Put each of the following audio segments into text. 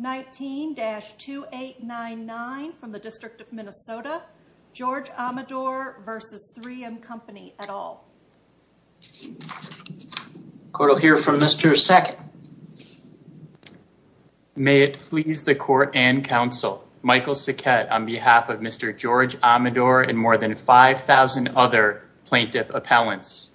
19-2899 from the District of Minnesota, George Amador v. 3M Company et al. Court will hear from Mr. Sackett. May it please the court and counsel, Michael Sackett on behalf of Mr. George Amador and more than 5,000 other plaintiff appellants.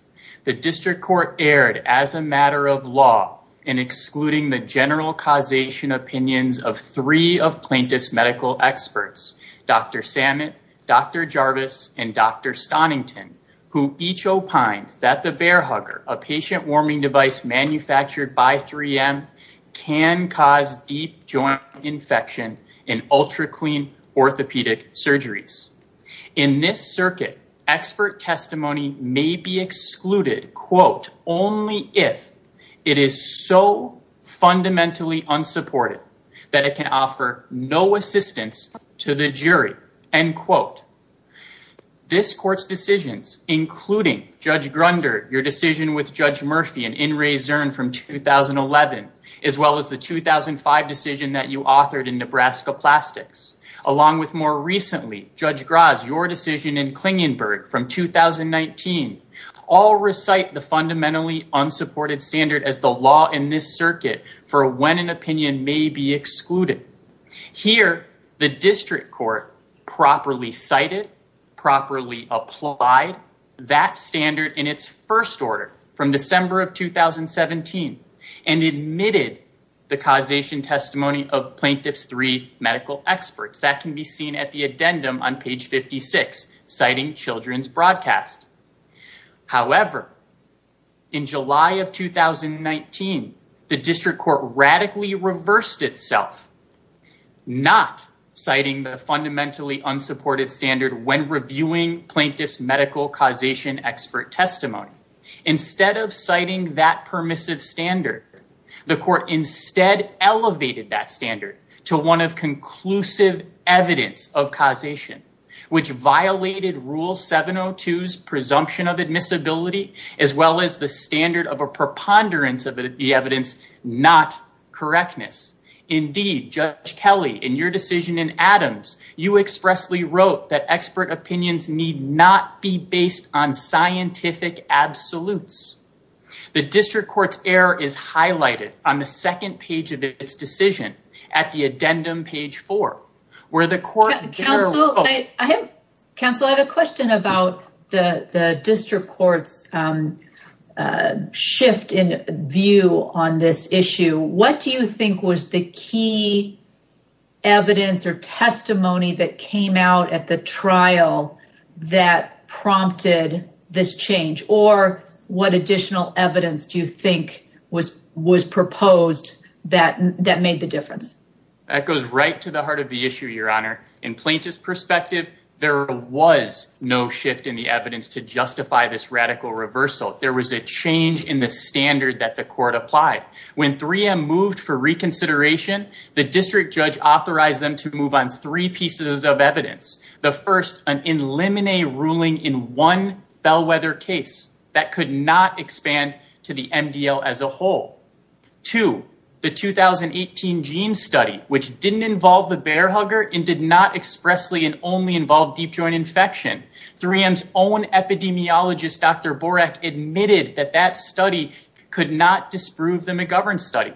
The district court erred as a matter of law in excluding the general causation opinions of three of plaintiff's medical experts, Dr. Samet, Dr. Jarvis, and Dr. Stonington, who each opined that the bear hugger, a patient warming device manufactured by 3M, can cause deep joint infection in ultra clean orthopedic surgeries. In this circuit, expert testimony may be excluded, quote, only if it is so fundamentally unsupported that it can offer no assistance to the jury, end quote. This court's decisions, including Judge Grunder, your decision with Judge Murphy and Inres Zern from 2011, as well as the 2005 decision that you authored in Nebraska Plastics, along with more recently, Judge Graz, your decision in Klingenberg from 2019, all recite the fundamentally unsupported standard as the law in this circuit for when an opinion may be excluded. Here, the district court properly cited, properly applied that standard in its first order from December of 2017 and admitted the causation testimony of plaintiff's three medical experts. That can be seen at the addendum on page 56, citing children's broadcast. However, in July of 2019, the district court radically reversed itself, not citing the fundamentally unsupported standard when reviewing plaintiff's medical causation expert testimony. Instead of citing that permissive standard, the court instead elevated that standard to one of conclusive evidence of causation, which violated rule 702's presumption of admissibility, as well as the standard of a preponderance of the evidence, not correctness. Indeed, Judge Kelly, in your decision in Adams, you expressly wrote that expert opinions need not be based on scientific absolutes. The district court's error is second page of its decision at the addendum page four, where the court. Counsel, I have a question about the district court's shift in view on this issue. What do you think was the key evidence or testimony that came out at the trial that prompted this change? Or what additional evidence do you think was proposed that made the difference? That goes right to the heart of the issue, Your Honor. In plaintiff's perspective, there was no shift in the evidence to justify this radical reversal. There was a change in the standard that the court applied. When 3M moved for reconsideration, the district judge authorized them to move on three pieces of evidence. The first, an in limine ruling in one bellwether case that could not expand to the MDL as a whole. Two, the 2018 gene study, which didn't involve the bear hugger and did not expressly and only involve deep joint infection. 3M's own epidemiologist, Dr. Borak admitted that that study could not disprove the McGovern study.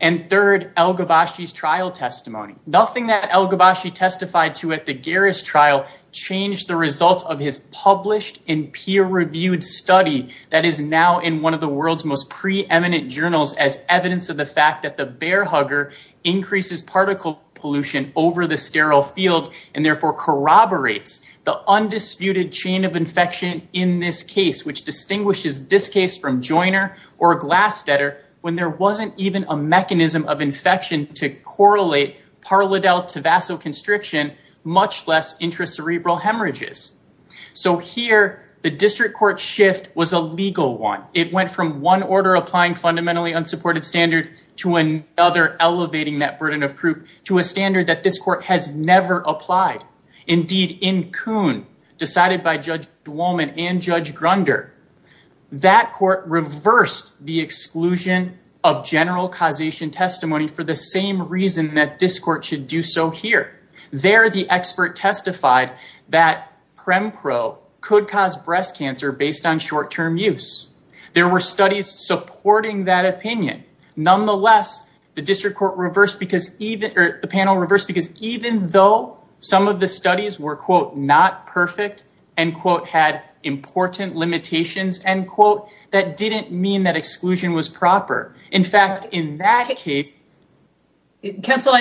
And third, El-Ghobashi's trial testimony. Nothing that El-Ghobashi testified to at the Garris trial changed the results of his published and peer-reviewed study that is now in one of the world's most preeminent journals as evidence of the fact that the bear hugger increases particle pollution over the sterile field and therefore corroborates the undisputed chain of infection in this case, which distinguishes this case from joiner or glass fetter when there wasn't even a mechanism of infection to correlate parladel to vasoconstriction much less intracerebral hemorrhages. So here the district court shift was a legal one. It went from one order applying fundamentally unsupported standard to another, elevating that burden of proof to a standard that this court has never applied. Indeed in Kuhn, decided by Judge Duwamant and Judge Grunder, that court reversed the exclusion of general causation testimony for the same reason that this court should do so here. There the expert testified that Prempro could cause breast cancer based on short-term use. There were studies supporting that opinion. Nonetheless, the panel reversed because even though some of the studies were not perfect and had important limitations, that didn't mean that exclusion was proper. In fact, in that case... Counsel,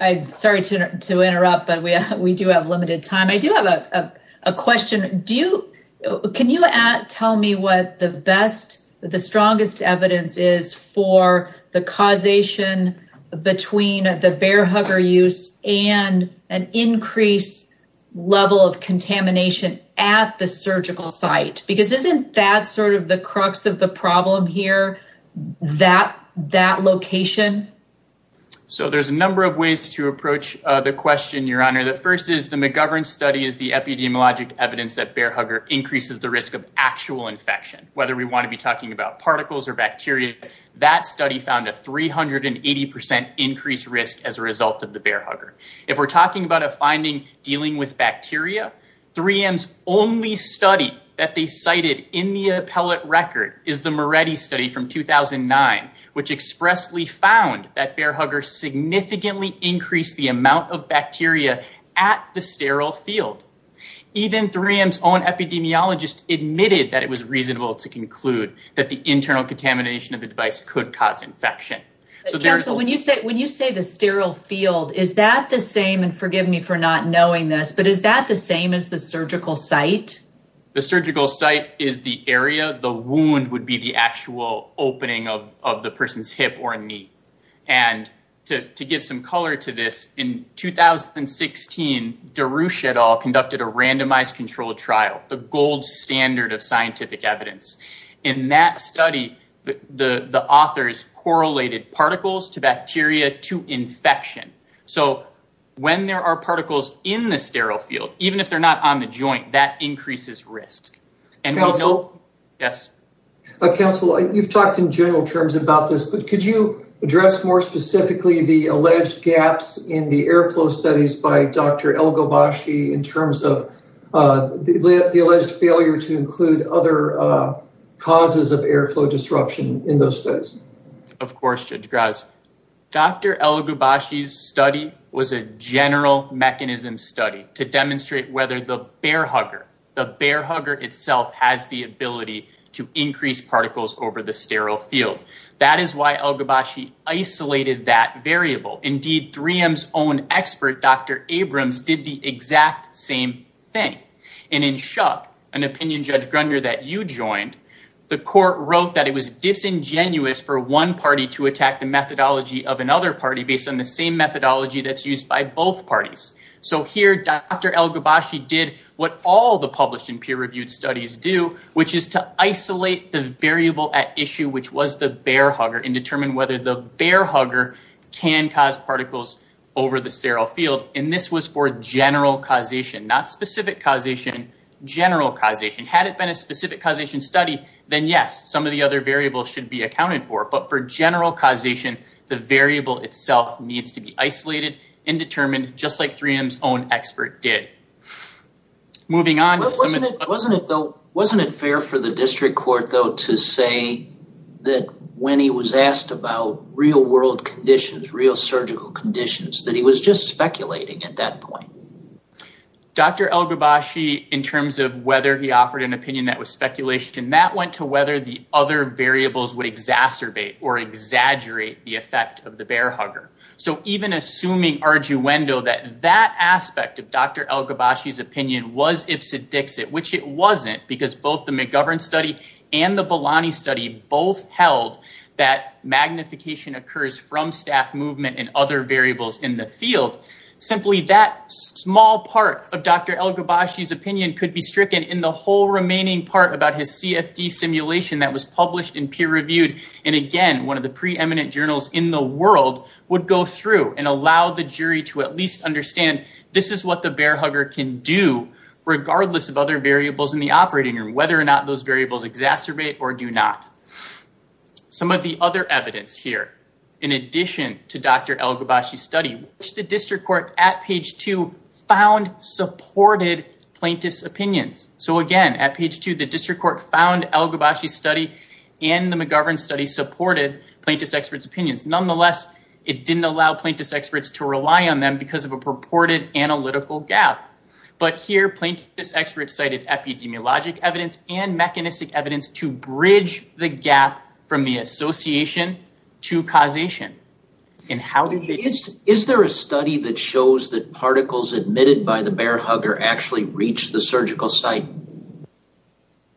I'm sorry to interrupt, but we do have limited time. I do have a question. Can you tell me what the strongest evidence is for the causation between the bear hugger use and an increased level of contamination at the surgical site? Because isn't that sort of the location? So there's a number of ways to approach the question, Your Honor. The first is the McGovern study is the epidemiologic evidence that bear hugger increases the risk of actual infection. Whether we want to be talking about particles or bacteria, that study found a 380% increased risk as a result of the bear hugger. If we're talking about a finding dealing with which expressly found that bear hugger significantly increased the amount of bacteria at the sterile field. Even 3M's own epidemiologist admitted that it was reasonable to conclude that the internal contamination of the device could cause infection. So when you say the sterile field, is that the same and forgive me for not knowing this, but is that the same as the surgical site? The surgical site is the area, the wound would be the actual opening of the person's hip or knee. And to give some color to this, in 2016, Darush et al conducted a randomized controlled trial, the gold standard of scientific evidence. In that study, the authors correlated particles to bacteria to infection. So when there are particles in the sterile field, even if they're not on the joint, that increases risk. Counsel, you've talked in general terms about this, but could you address more specifically the alleged gaps in the airflow studies by Dr. El-Ghubashi in terms of the alleged failure to include other causes of airflow disruption in those studies? Of course, Judge Graz. Dr. El-Ghubashi's study was a general mechanism study to demonstrate whether the bear hugger, the bear hugger itself has the ability to increase particles over the sterile field. That is why El-Ghubashi isolated that variable. Indeed 3M's own expert, Dr. Abrams did the exact same thing. And in shock, an opinion Judge Grunder that you joined, the court wrote that it was disingenuous for one party to attack the methodology of another party based on the same what all the published and peer-reviewed studies do, which is to isolate the variable at issue, which was the bear hugger and determine whether the bear hugger can cause particles over the sterile field. And this was for general causation, not specific causation, general causation. Had it been a specific causation study, then yes, some of the other variables should be accounted for. But for general causation, the variable itself needs to be isolated and determined just like El-Ghubashi's own expert did. Wasn't it fair for the district court though to say that when he was asked about real world conditions, real surgical conditions, that he was just speculating at that point? Dr. El-Ghubashi, in terms of whether he offered an opinion that was speculation, that went to whether the other variables would exacerbate or exaggerate the effect of the bear hugger. So even assuming arduendo that that aspect of Dr. El-Ghubashi's opinion was ipsodixit, which it wasn't because both the McGovern study and the Bolani study both held that magnification occurs from staff movement and other variables in the field. Simply that small part of Dr. El-Ghubashi's opinion could be stricken in the whole remaining part about his CFD simulation that was published and peer-reviewed. And again, one of the preeminent journals in the world would go through and allow the jury to at least understand this is what the bear hugger can do regardless of other variables in the operating room, whether or not those variables exacerbate or do not. Some of the other evidence here, in addition to Dr. El-Ghubashi's study, which the district court at page two found supported plaintiff's opinions. So again, at page two, the district court found El-Ghubashi's study and the McGovern study supported plaintiff's expert's opinions. Nonetheless, it didn't allow plaintiff's experts to rely on them because of a purported analytical gap. But here, plaintiff's experts cited epidemiologic evidence and mechanistic evidence to bridge the gap from the association to causation. Is there a study that shows that particles admitted by the bear hugger actually reached the surgical site?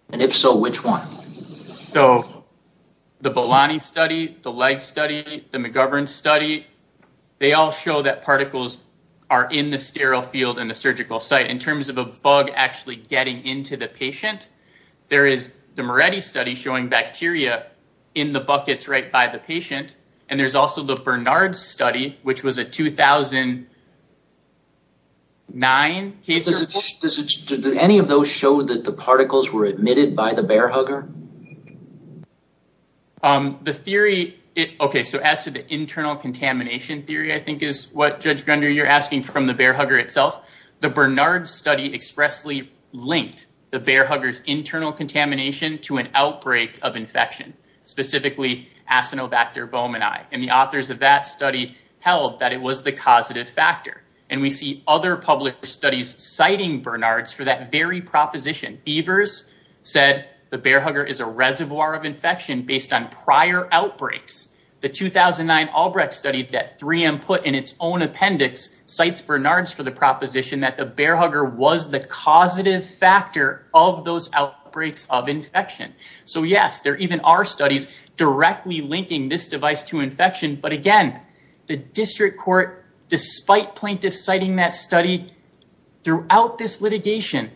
And if so, which one? So the Bolani study, the Legg study, the McGovern study, they all show that particles are in the sterile field and the surgical site. In terms of a bug actually getting into the patient, there is the Moretti study showing bacteria in the buckets right by the patient. And there's also the Bernard study, which was a 2009 case. Did any of those show that the particles were in the surgical site? The theory, okay, so as to the internal contamination theory, I think, is what, Judge Grunder, you're asking from the bear hugger itself. The Bernard study expressly linked the bear hugger's internal contamination to an outbreak of infection, specifically acinobacter bomeni. And the authors of that study held that it was the causative factor. And we see other published studies citing Bernard's for that very proposition. Beavers said the bear hugger is a reservoir of infection based on prior outbreaks. The 2009 Albrecht study that 3M put in its own appendix cites Bernard's for the proposition that the bear hugger was the causative factor of those outbreaks of infection. So yes, there even are studies directly linking this device to infection. But again, the district court, despite plaintiffs citing that study throughout this litigation,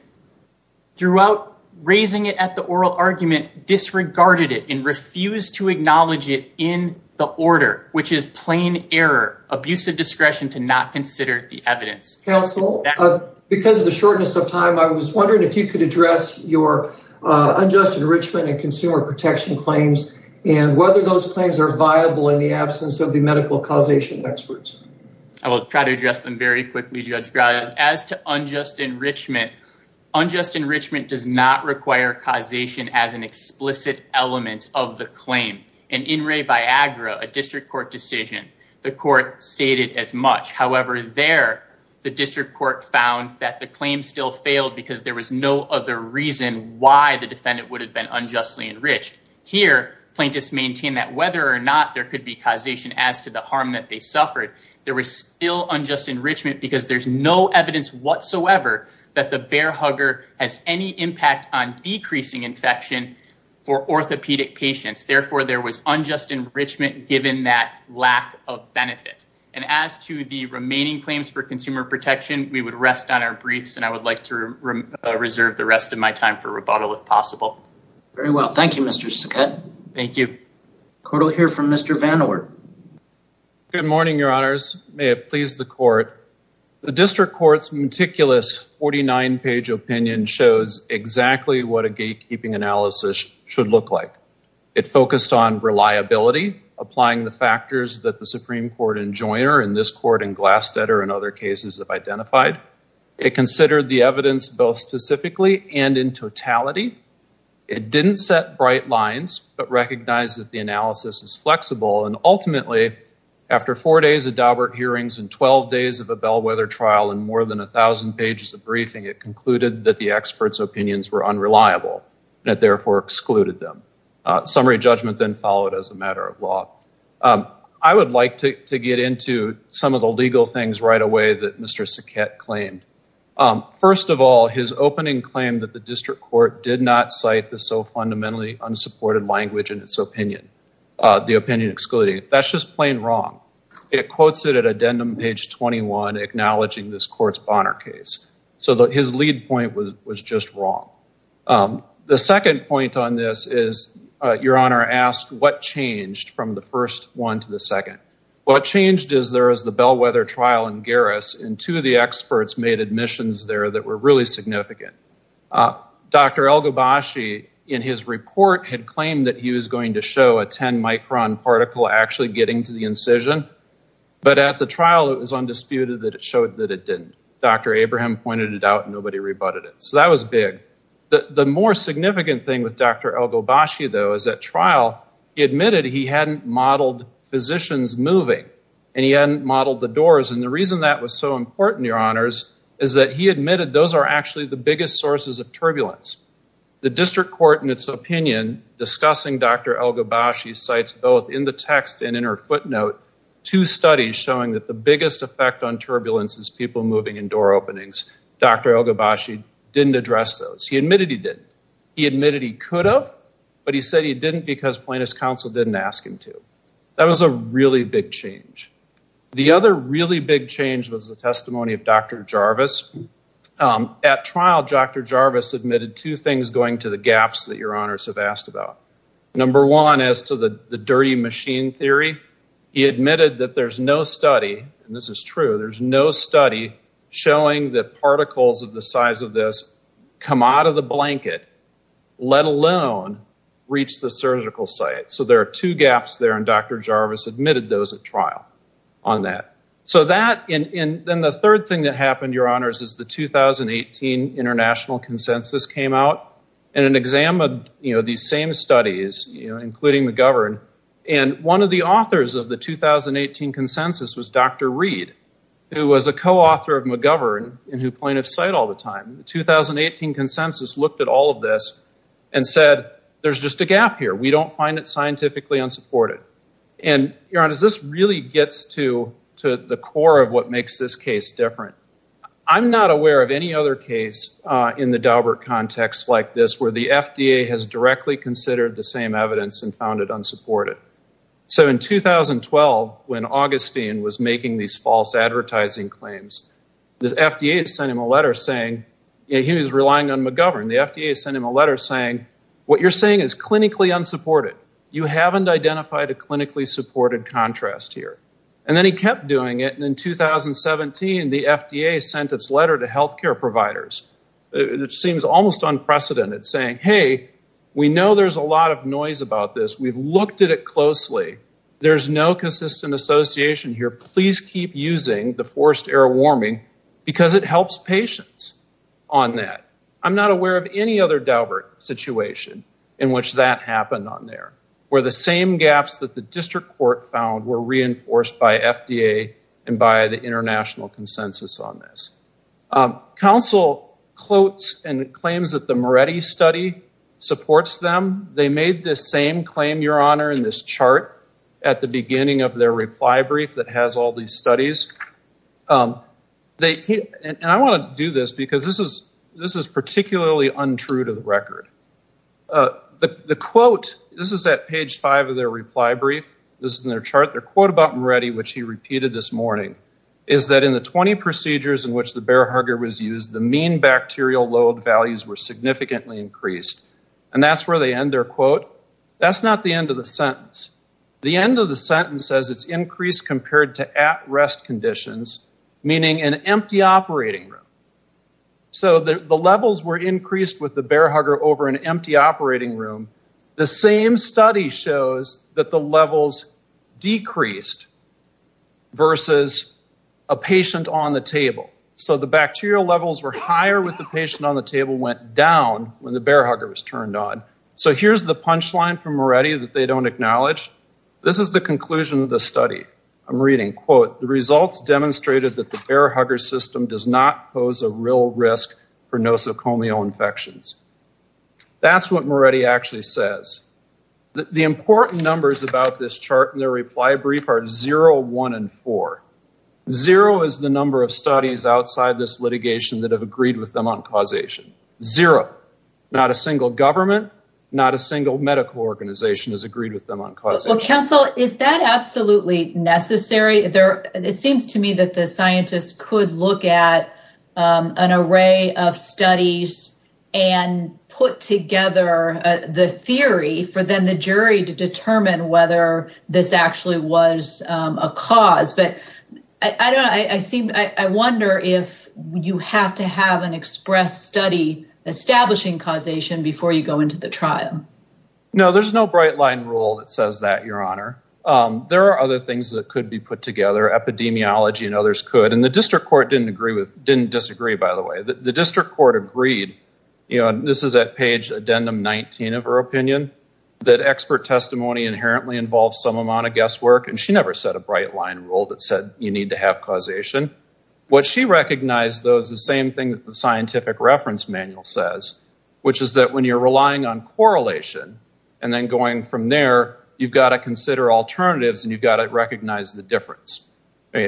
throughout raising it at the oral argument, disregarded it and refused to acknowledge it in the order, which is plain error, abusive discretion to not consider the evidence. Counsel, because of the shortness of time, I was wondering if you could address your unjust enrichment and consumer protection claims and whether those claims are viable in the absence of the medical causation experts. I will try to address them very quickly, Judge Graves. As to unjust enrichment, unjust enrichment does not require causation as an explicit element of the claim. And in Ray Viagra, a district court decision, the court stated as much. However, there, the district court found that the claim still failed because there was no other reason why the defendant would have been unjustly enriched. Here, plaintiffs maintain that whether or not there could be causation as to the harm that they suffered, there was still unjust enrichment because there's no evidence whatsoever that the bear hugger has any impact on decreasing infection for orthopedic patients. Therefore, there was unjust enrichment given that lack of benefit. And as to the remaining claims for consumer protection, we would rest on our briefs and I would like to reserve the rest of my time for rebuttal if possible. Very well. Thank you, Mr. Saket. Thank you. Court will hear from Mr. Van Oort. Good morning, Your Honors. May it please the court. The district court's meticulous 49-page opinion shows exactly what a gatekeeping analysis should look like. It focused on reliability, applying the factors that the Supreme Court in Joyner and this court in Glasteader and other cases have identified. It considered the evidence both specifically and in totality. It didn't set bright lines but recognized that the analysis is flexible and ultimately, after four days of Dawbert hearings and 12 days of a bellwether trial and more than a thousand pages of briefing, it concluded that the experts' opinions were unreliable and it therefore excluded them. Summary judgment then followed as a matter of law. I would like to get into some of the legal things right away that Mr. Saket claimed. First of all, his opening claim that the district court did not cite the so fundamentally unsupported language in its opinion, the opinion excluding. That's just plain wrong. It quotes it at addendum page 21, acknowledging this court's Bonner case. So his lead point was just wrong. The second point on this is Your Honor asked what changed from the first one to the second. What changed is there is the bellwether trial in Garris and two of experts made admissions there that were really significant. Dr. El-Ghobashi in his report had claimed that he was going to show a 10 micron particle actually getting to the incision, but at the trial it was undisputed that it showed that it didn't. Dr. Abraham pointed it out and nobody rebutted it. So that was big. The more significant thing with Dr. El-Ghobashi though is at trial, he admitted he hadn't modeled physicians moving and he hadn't modeled the is that he admitted those are actually the biggest sources of turbulence. The district court in its opinion discussing Dr. El-Ghobashi cites both in the text and in her footnote two studies showing that the biggest effect on turbulence is people moving in door openings. Dr. El-Ghobashi didn't address those. He admitted he did. He admitted he could have, but he said he didn't because plaintiff's counsel didn't ask him to. That was a really big change. The other really big change was the testimony of Dr. Jarvis. At trial, Dr. Jarvis admitted two things going to the gaps that your honors have asked about. Number one is to the dirty machine theory. He admitted that there's no study, and this is true, there's no study showing that particles of the size of this come out of the blanket, let alone reach the surgical site. So there are two gaps there, and Dr. Jarvis admitted those at trial on that. Then the third thing that happened, your honors, is the 2018 International Consensus came out and examined these same studies, including McGovern. One of the authors of the 2018 consensus was Dr. Reed, who was a co-author of McGovern and who plaintiffs cite all the time. The 2018 consensus looked at all of this and said there's just a gap here. We don't find it scientifically unsupported. Your honors, this really gets to the core of what makes this case different. I'm not aware of any other case in the Daubert context like this where the FDA has directly considered the same evidence and found it unsupported. So in 2012, when Augustine was making these false advertising claims, the FDA sent him a letter saying, he was relying on you haven't identified a clinically supported contrast here. Then he kept doing it, and in 2017, the FDA sent its letter to healthcare providers. It seems almost unprecedented saying, hey, we know there's a lot of noise about this. We've looked at it closely. There's no consistent association here. Please keep using the forced air warming because it helps patients on that. I'm not aware of any other Daubert situation in which that happened on there where the same gaps that the district court found were reinforced by FDA and by the international consensus on this. Counsel quotes and claims that the Moretti study supports them. They made the same claim, your honor, in this chart at the beginning of their reply brief that has all these studies. I want to do this because this is particularly untrue to the record. The quote, this is at page five of their reply brief, this is in their chart, their quote about Moretti, which he repeated this morning, is that in the 20 procedures in which the bear hugger was used, the mean bacterial load values were significantly increased. That's where they end their quote. That's not the end of the sentence. The end of the sentence says it's increased compared to at rest conditions, meaning an empty operating room. So the levels were increased with the bear hugger over an empty operating room. The same study shows that the levels decreased versus a patient on the table. So the bacterial levels were higher with the patient on the table, went down when the bear hugger was turned on. So here's the punch line from Moretti that they don't acknowledge. This is the conclusion of the study. I'm reading, quote, the results demonstrated that the bear hugger system does not pose a real risk for nosocomial infections. That's what Moretti actually says. The important numbers about this chart in their reply brief are zero, one, and four. Zero is the number of studies outside this litigation that have agreed with them on not a single medical organization has agreed with them on causation. Counsel, is that absolutely necessary? It seems to me that the scientists could look at an array of studies and put together the theory for then the jury to determine whether this actually was a cause. I wonder if you have to have an express study establishing causation before you go into the trial. No, there's no bright line rule that says that, Your Honor. There are other things that could be put together. Epidemiology and others could. And the district court didn't disagree, by the way. The district court agreed, this is at page addendum 19 of her opinion, that expert testimony inherently involves some amount of guesswork. And she never said a bright line rule that said you need to have causation. What she recognized, though, is the same thing that the scientific reference manual says, which is that when you're relying on correlation and then going from there, you've got to consider alternatives and you've got to recognize the difference.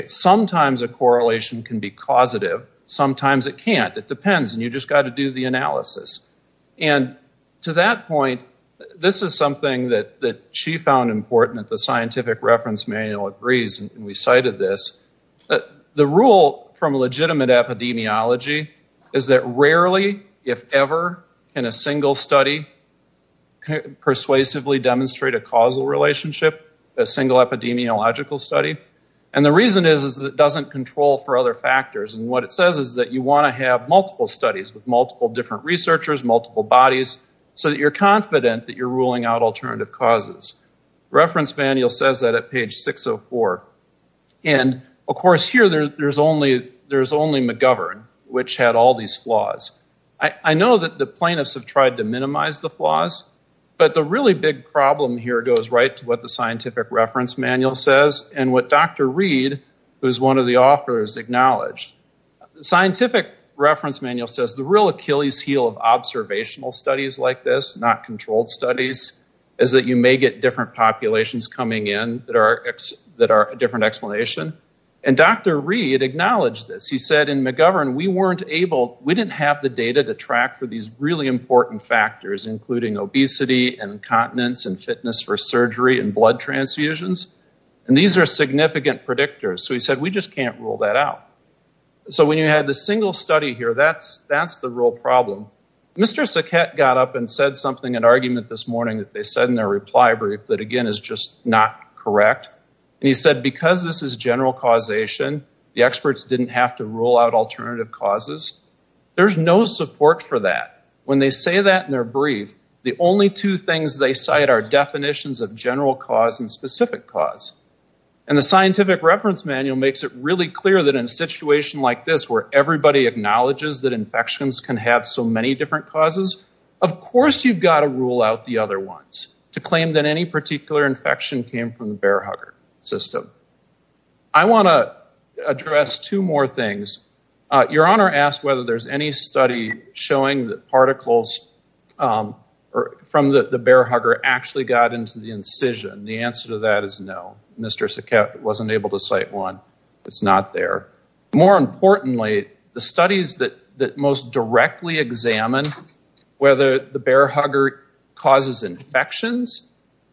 Sometimes a correlation can be causative. Sometimes it can't. It depends. And you've just got to do the analysis. And to that point, this is something that she found important that the scientific reference manual agrees. And we cited this. The rule from legitimate epidemiology is that rarely, if ever, can a single study persuasively demonstrate a causal relationship, a single epidemiological study. And the reason is that it doesn't control for other factors. And what it says is that you want to have multiple studies with multiple different researchers, multiple bodies, so that you're confident that you're ruling out alternative causes. Reference manual says that at page 604. And, of course, here there's only McGovern, which had all these flaws. I know that the plaintiffs have tried to minimize the flaws, but the really big problem here goes right to what the scientific reference manual says and what Dr. Reed, who's one of the authors, acknowledged. The scientific reference manual says the real Achilles heel of observational studies like this, not controlled studies, is that you may get different populations coming in that are a different explanation. And Dr. Reed acknowledged this. He said in McGovern, we didn't have the data to track for these really important factors, including obesity and incontinence and fitness for surgery and blood transfusions. And these are significant predictors. So he said, we just can't rule that out. So when you had the single study here, that's the real problem. Mr. Saket got up and said something in argument this morning that they said in their reply brief that, again, is just not correct. And he said, because this is general causation, the experts didn't have to rule out alternative causes. There's no support for that. When they say that in their brief, the only two things they cite are definitions of general cause and specific cause. And the scientific reference manual makes it really clear that in a situation like this, where everybody acknowledges that infections can have so many different causes, of course you've got to rule out the other ones to from the bear hugger system. I want to address two more things. Your Honor asked whether there's any study showing that particles from the bear hugger actually got into the incision. The answer to that is no. Mr. Saket wasn't able to cite one. It's not there. More importantly, the studies that most directly examine whether the bear hugger causes infections,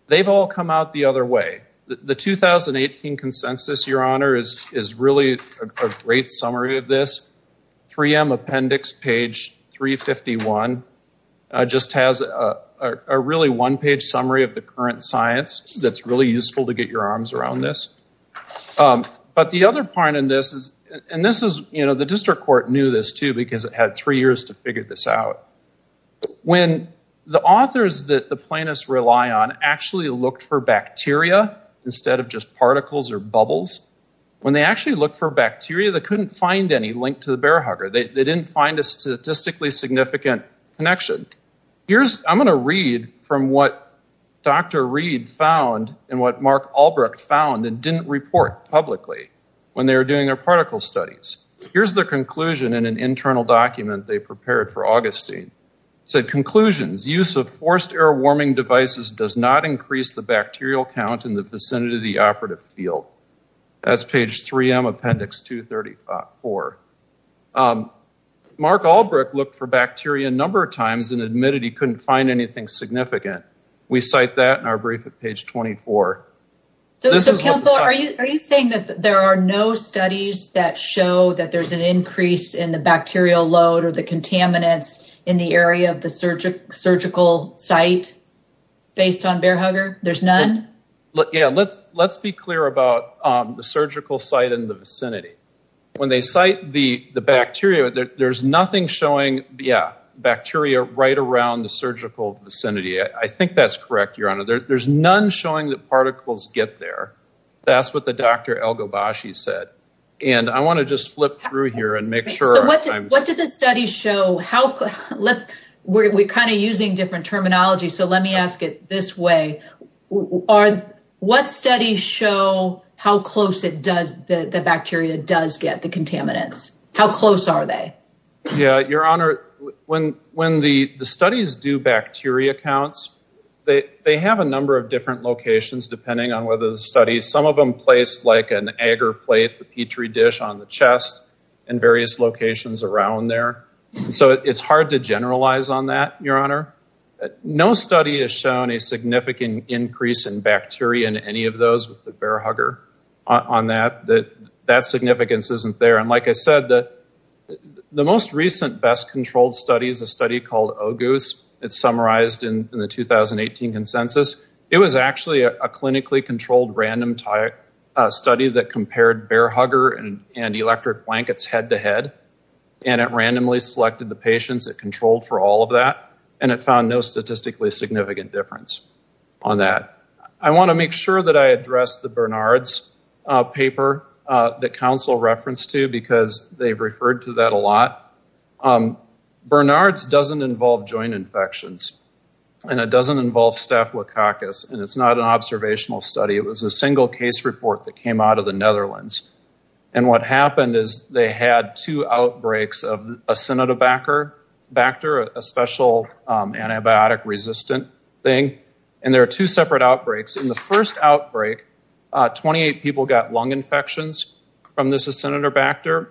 they've all come out the other way. The 2018 consensus, Your Honor, is really a great summary of this. 3M appendix page 351 just has a really one-page summary of the current science that's really useful to get your arms around this. But the other part in this is, and this is, you know, the district court knew this, too, because it had three years to figure this out. When the authors that the plaintiffs rely on actually looked for bacteria instead of just particles or bubbles, when they actually looked for bacteria, they couldn't find any linked to the bear hugger. They didn't find a statistically significant connection. I'm going to read from what Dr. Reed found and what Mark Albrecht found and didn't report publicly when they were doing their particle studies. Here's the conclusion in an internal document they prepared for Augustine. Conclusions. Use of forced air warming devices does not increase the bacterial count in the vicinity of the operative field. That's page 3M, appendix 234. Mark Albrecht looked for bacteria a number of times and admitted he couldn't find anything significant. We cite that in our brief at page 24. Are you saying that there are no studies that show that there's an increase in the bacterial load or the contaminants in the area of the surgical site based on bear hugger? There's none? Yeah, let's be clear about the surgical site in the vicinity. When they cite the bacteria, there's nothing showing bacteria right around the surgical vicinity. I think that's correct, Your Honor. There's none showing that particles get there. That's what the Dr. Elgobashi said. I want to just flip through here and make sure. What did the study show? We're kind of using different terminology, so let me ask it this way. What studies show how close the bacteria does get the contaminants? How close are they? Yeah, Your Honor. When the studies do bacteria counts, they have a number of different locations depending on whether the studies. Some of them place like an agar plate, the petri dish on the chest and various locations around there. It's hard to generalize on that, Your Honor. No study has shown a significant increase in bacteria in any of those with the bear hugger on that. That significance isn't there. Like I said, the most recent best controlled study is called OGUS. It's summarized in the 2018 consensus. It was actually a clinically controlled random study that compared bear hugger and electric blankets head to head. It randomly selected the patients it controlled for all of that. It found no statistically significant difference on that. I want to make sure that I address the Bernard's paper that counsel referenced to because they've referred to that a lot. Bernard's doesn't involve joint infections and it doesn't involve staphylococcus and it's not an observational study. It was a single case report that came out of the Netherlands. What happened is they had two outbreaks of Acinetobacter, a special antibiotic resistant thing. There are two separate outbreaks. In the first outbreak, 28 people got lung infections from this Acinetobacter.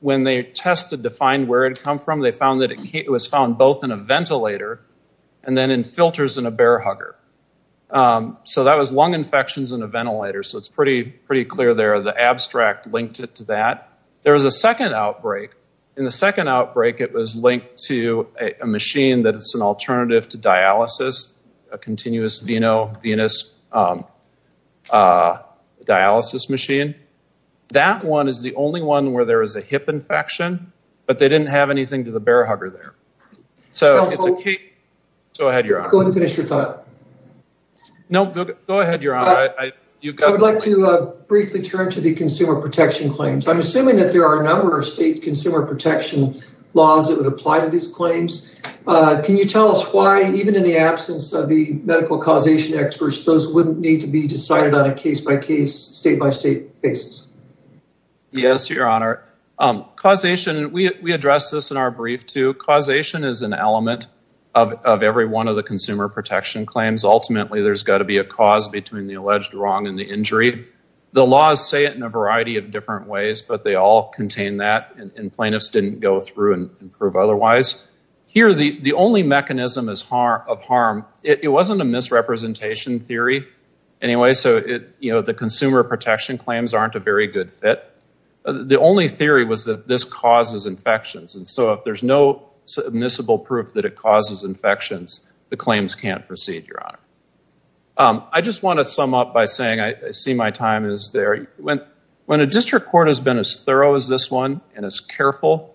When they tested to find where it had come from, they found that it was found both in a ventilator and then in filters in a bear hugger. That was lung infections in a ventilator. It's pretty clear there. The abstract linked it to that. There was a second outbreak. In the second outbreak, it was linked to a machine that is an alternative to dialysis, a continuous venous dialysis machine. That one is the only one where there is a hip infection, but they didn't have anything to the bear hugger there. I would like to briefly turn to the consumer protection claims. I'm assuming there are a lot of laws that would apply to these claims. Can you tell us why, even in the absence of the medical causation experts, those wouldn't need to be decided on a case-by-case, state-by-state basis? Yes, your honor. Causation, we addressed this in our brief too. Causation is an element of every one of the consumer protection claims. Ultimately, there's got to be a cause between the alleged wrong and the injury. The laws say it in a variety of different ways, but they all contain that. Plaintiffs didn't go through and prove otherwise. Here, the only mechanism of harm, it wasn't a misrepresentation theory anyway. The consumer protection claims aren't a very good fit. The only theory was that this causes infections. If there's no submissible proof that it causes infections, the claims can't proceed, your honor. I just want to say, the district court has been as thorough as this one and as careful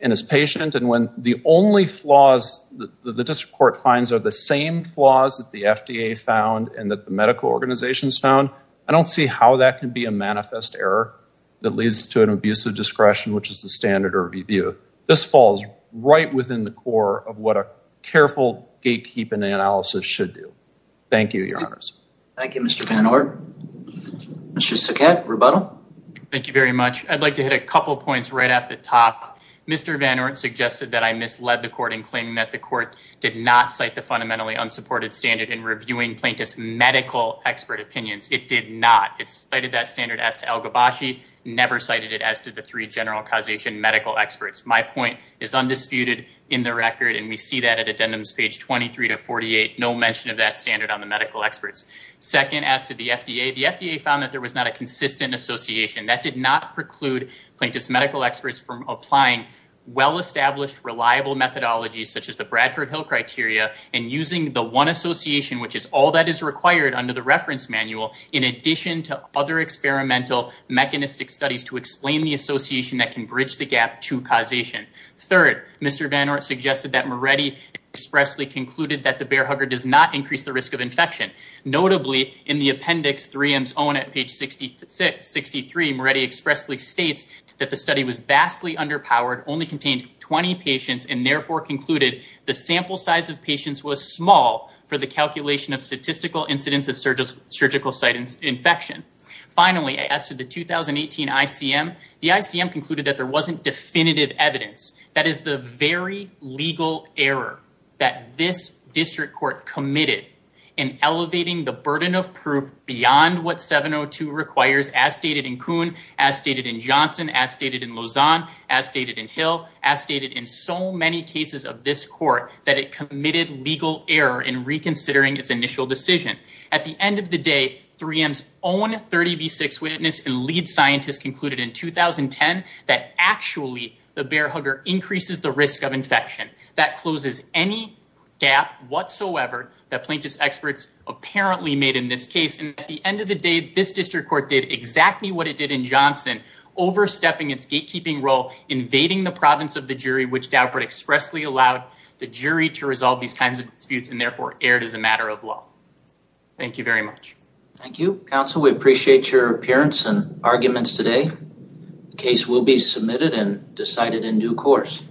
and as patient. When the only flaws that the district court finds are the same flaws that the FDA found and that the medical organizations found, I don't see how that can be a manifest error that leads to an abuse of discretion, which is the standard review. This falls right within the core of what a careful gatekeeping analysis should do. Thank you, your honors. Thank you, Mr. Van Orn. Mr. Saket, rebuttal. Thank you very much. I'd like to hit a couple points right off the top. Mr. Van Orn suggested that I misled the court in claiming that the court did not cite the fundamentally unsupported standard in reviewing plaintiff's medical expert opinions. It did not. It cited that standard as to El Gabashi, never cited it as to the three general causation medical experts. My point is undisputed in the record, and we see that at addendums page 23 to 48, no mention of that standard on the medical experts. Second, as to the FDA, the FDA found that there was not a consistent association that did not preclude plaintiff's medical experts from applying well-established, reliable methodologies, such as the Bradford Hill criteria and using the one association, which is all that is required under the reference manual, in addition to other experimental mechanistic studies to explain the association that can bridge the gap to causation. Third, Mr. Van Orn suggested that Moretti expressly concluded that the bear hugger does not increase the risk of infection. Notably, in the appendix 3M's own at page 63, Moretti expressly states that the study was vastly underpowered, only contained 20 patients, and therefore concluded the sample size of patients was small for the calculation of statistical incidence of surgical site infection. Finally, as to the 2018 ICM, the ICM concluded that there was not definitive evidence. That is the very legal error that this district court committed in elevating the burden of proof beyond what 702 requires, as stated in Kuhn, as stated in Johnson, as stated in Lausanne, as stated in Hill, as stated in so many cases of this court, that it committed legal error in reconsidering its initial decision. At the end of the day, 3M's own 30B6 witness and lead scientist concluded in 2010 that actually the bear hugger increases the risk of infection. That closes any gap whatsoever that plaintiff's experts apparently made in this case. And at the end of the day, this district court did exactly what it did in Johnson, overstepping its gatekeeping role, invading the province of the jury, which Daubert expressly allowed the jury to resolve these kinds of disputes and therefore erred as a matter of law. Thank you very much. Thank you, counsel. We appreciate your appearance and arguments today. The case will be submitted and decided in due course.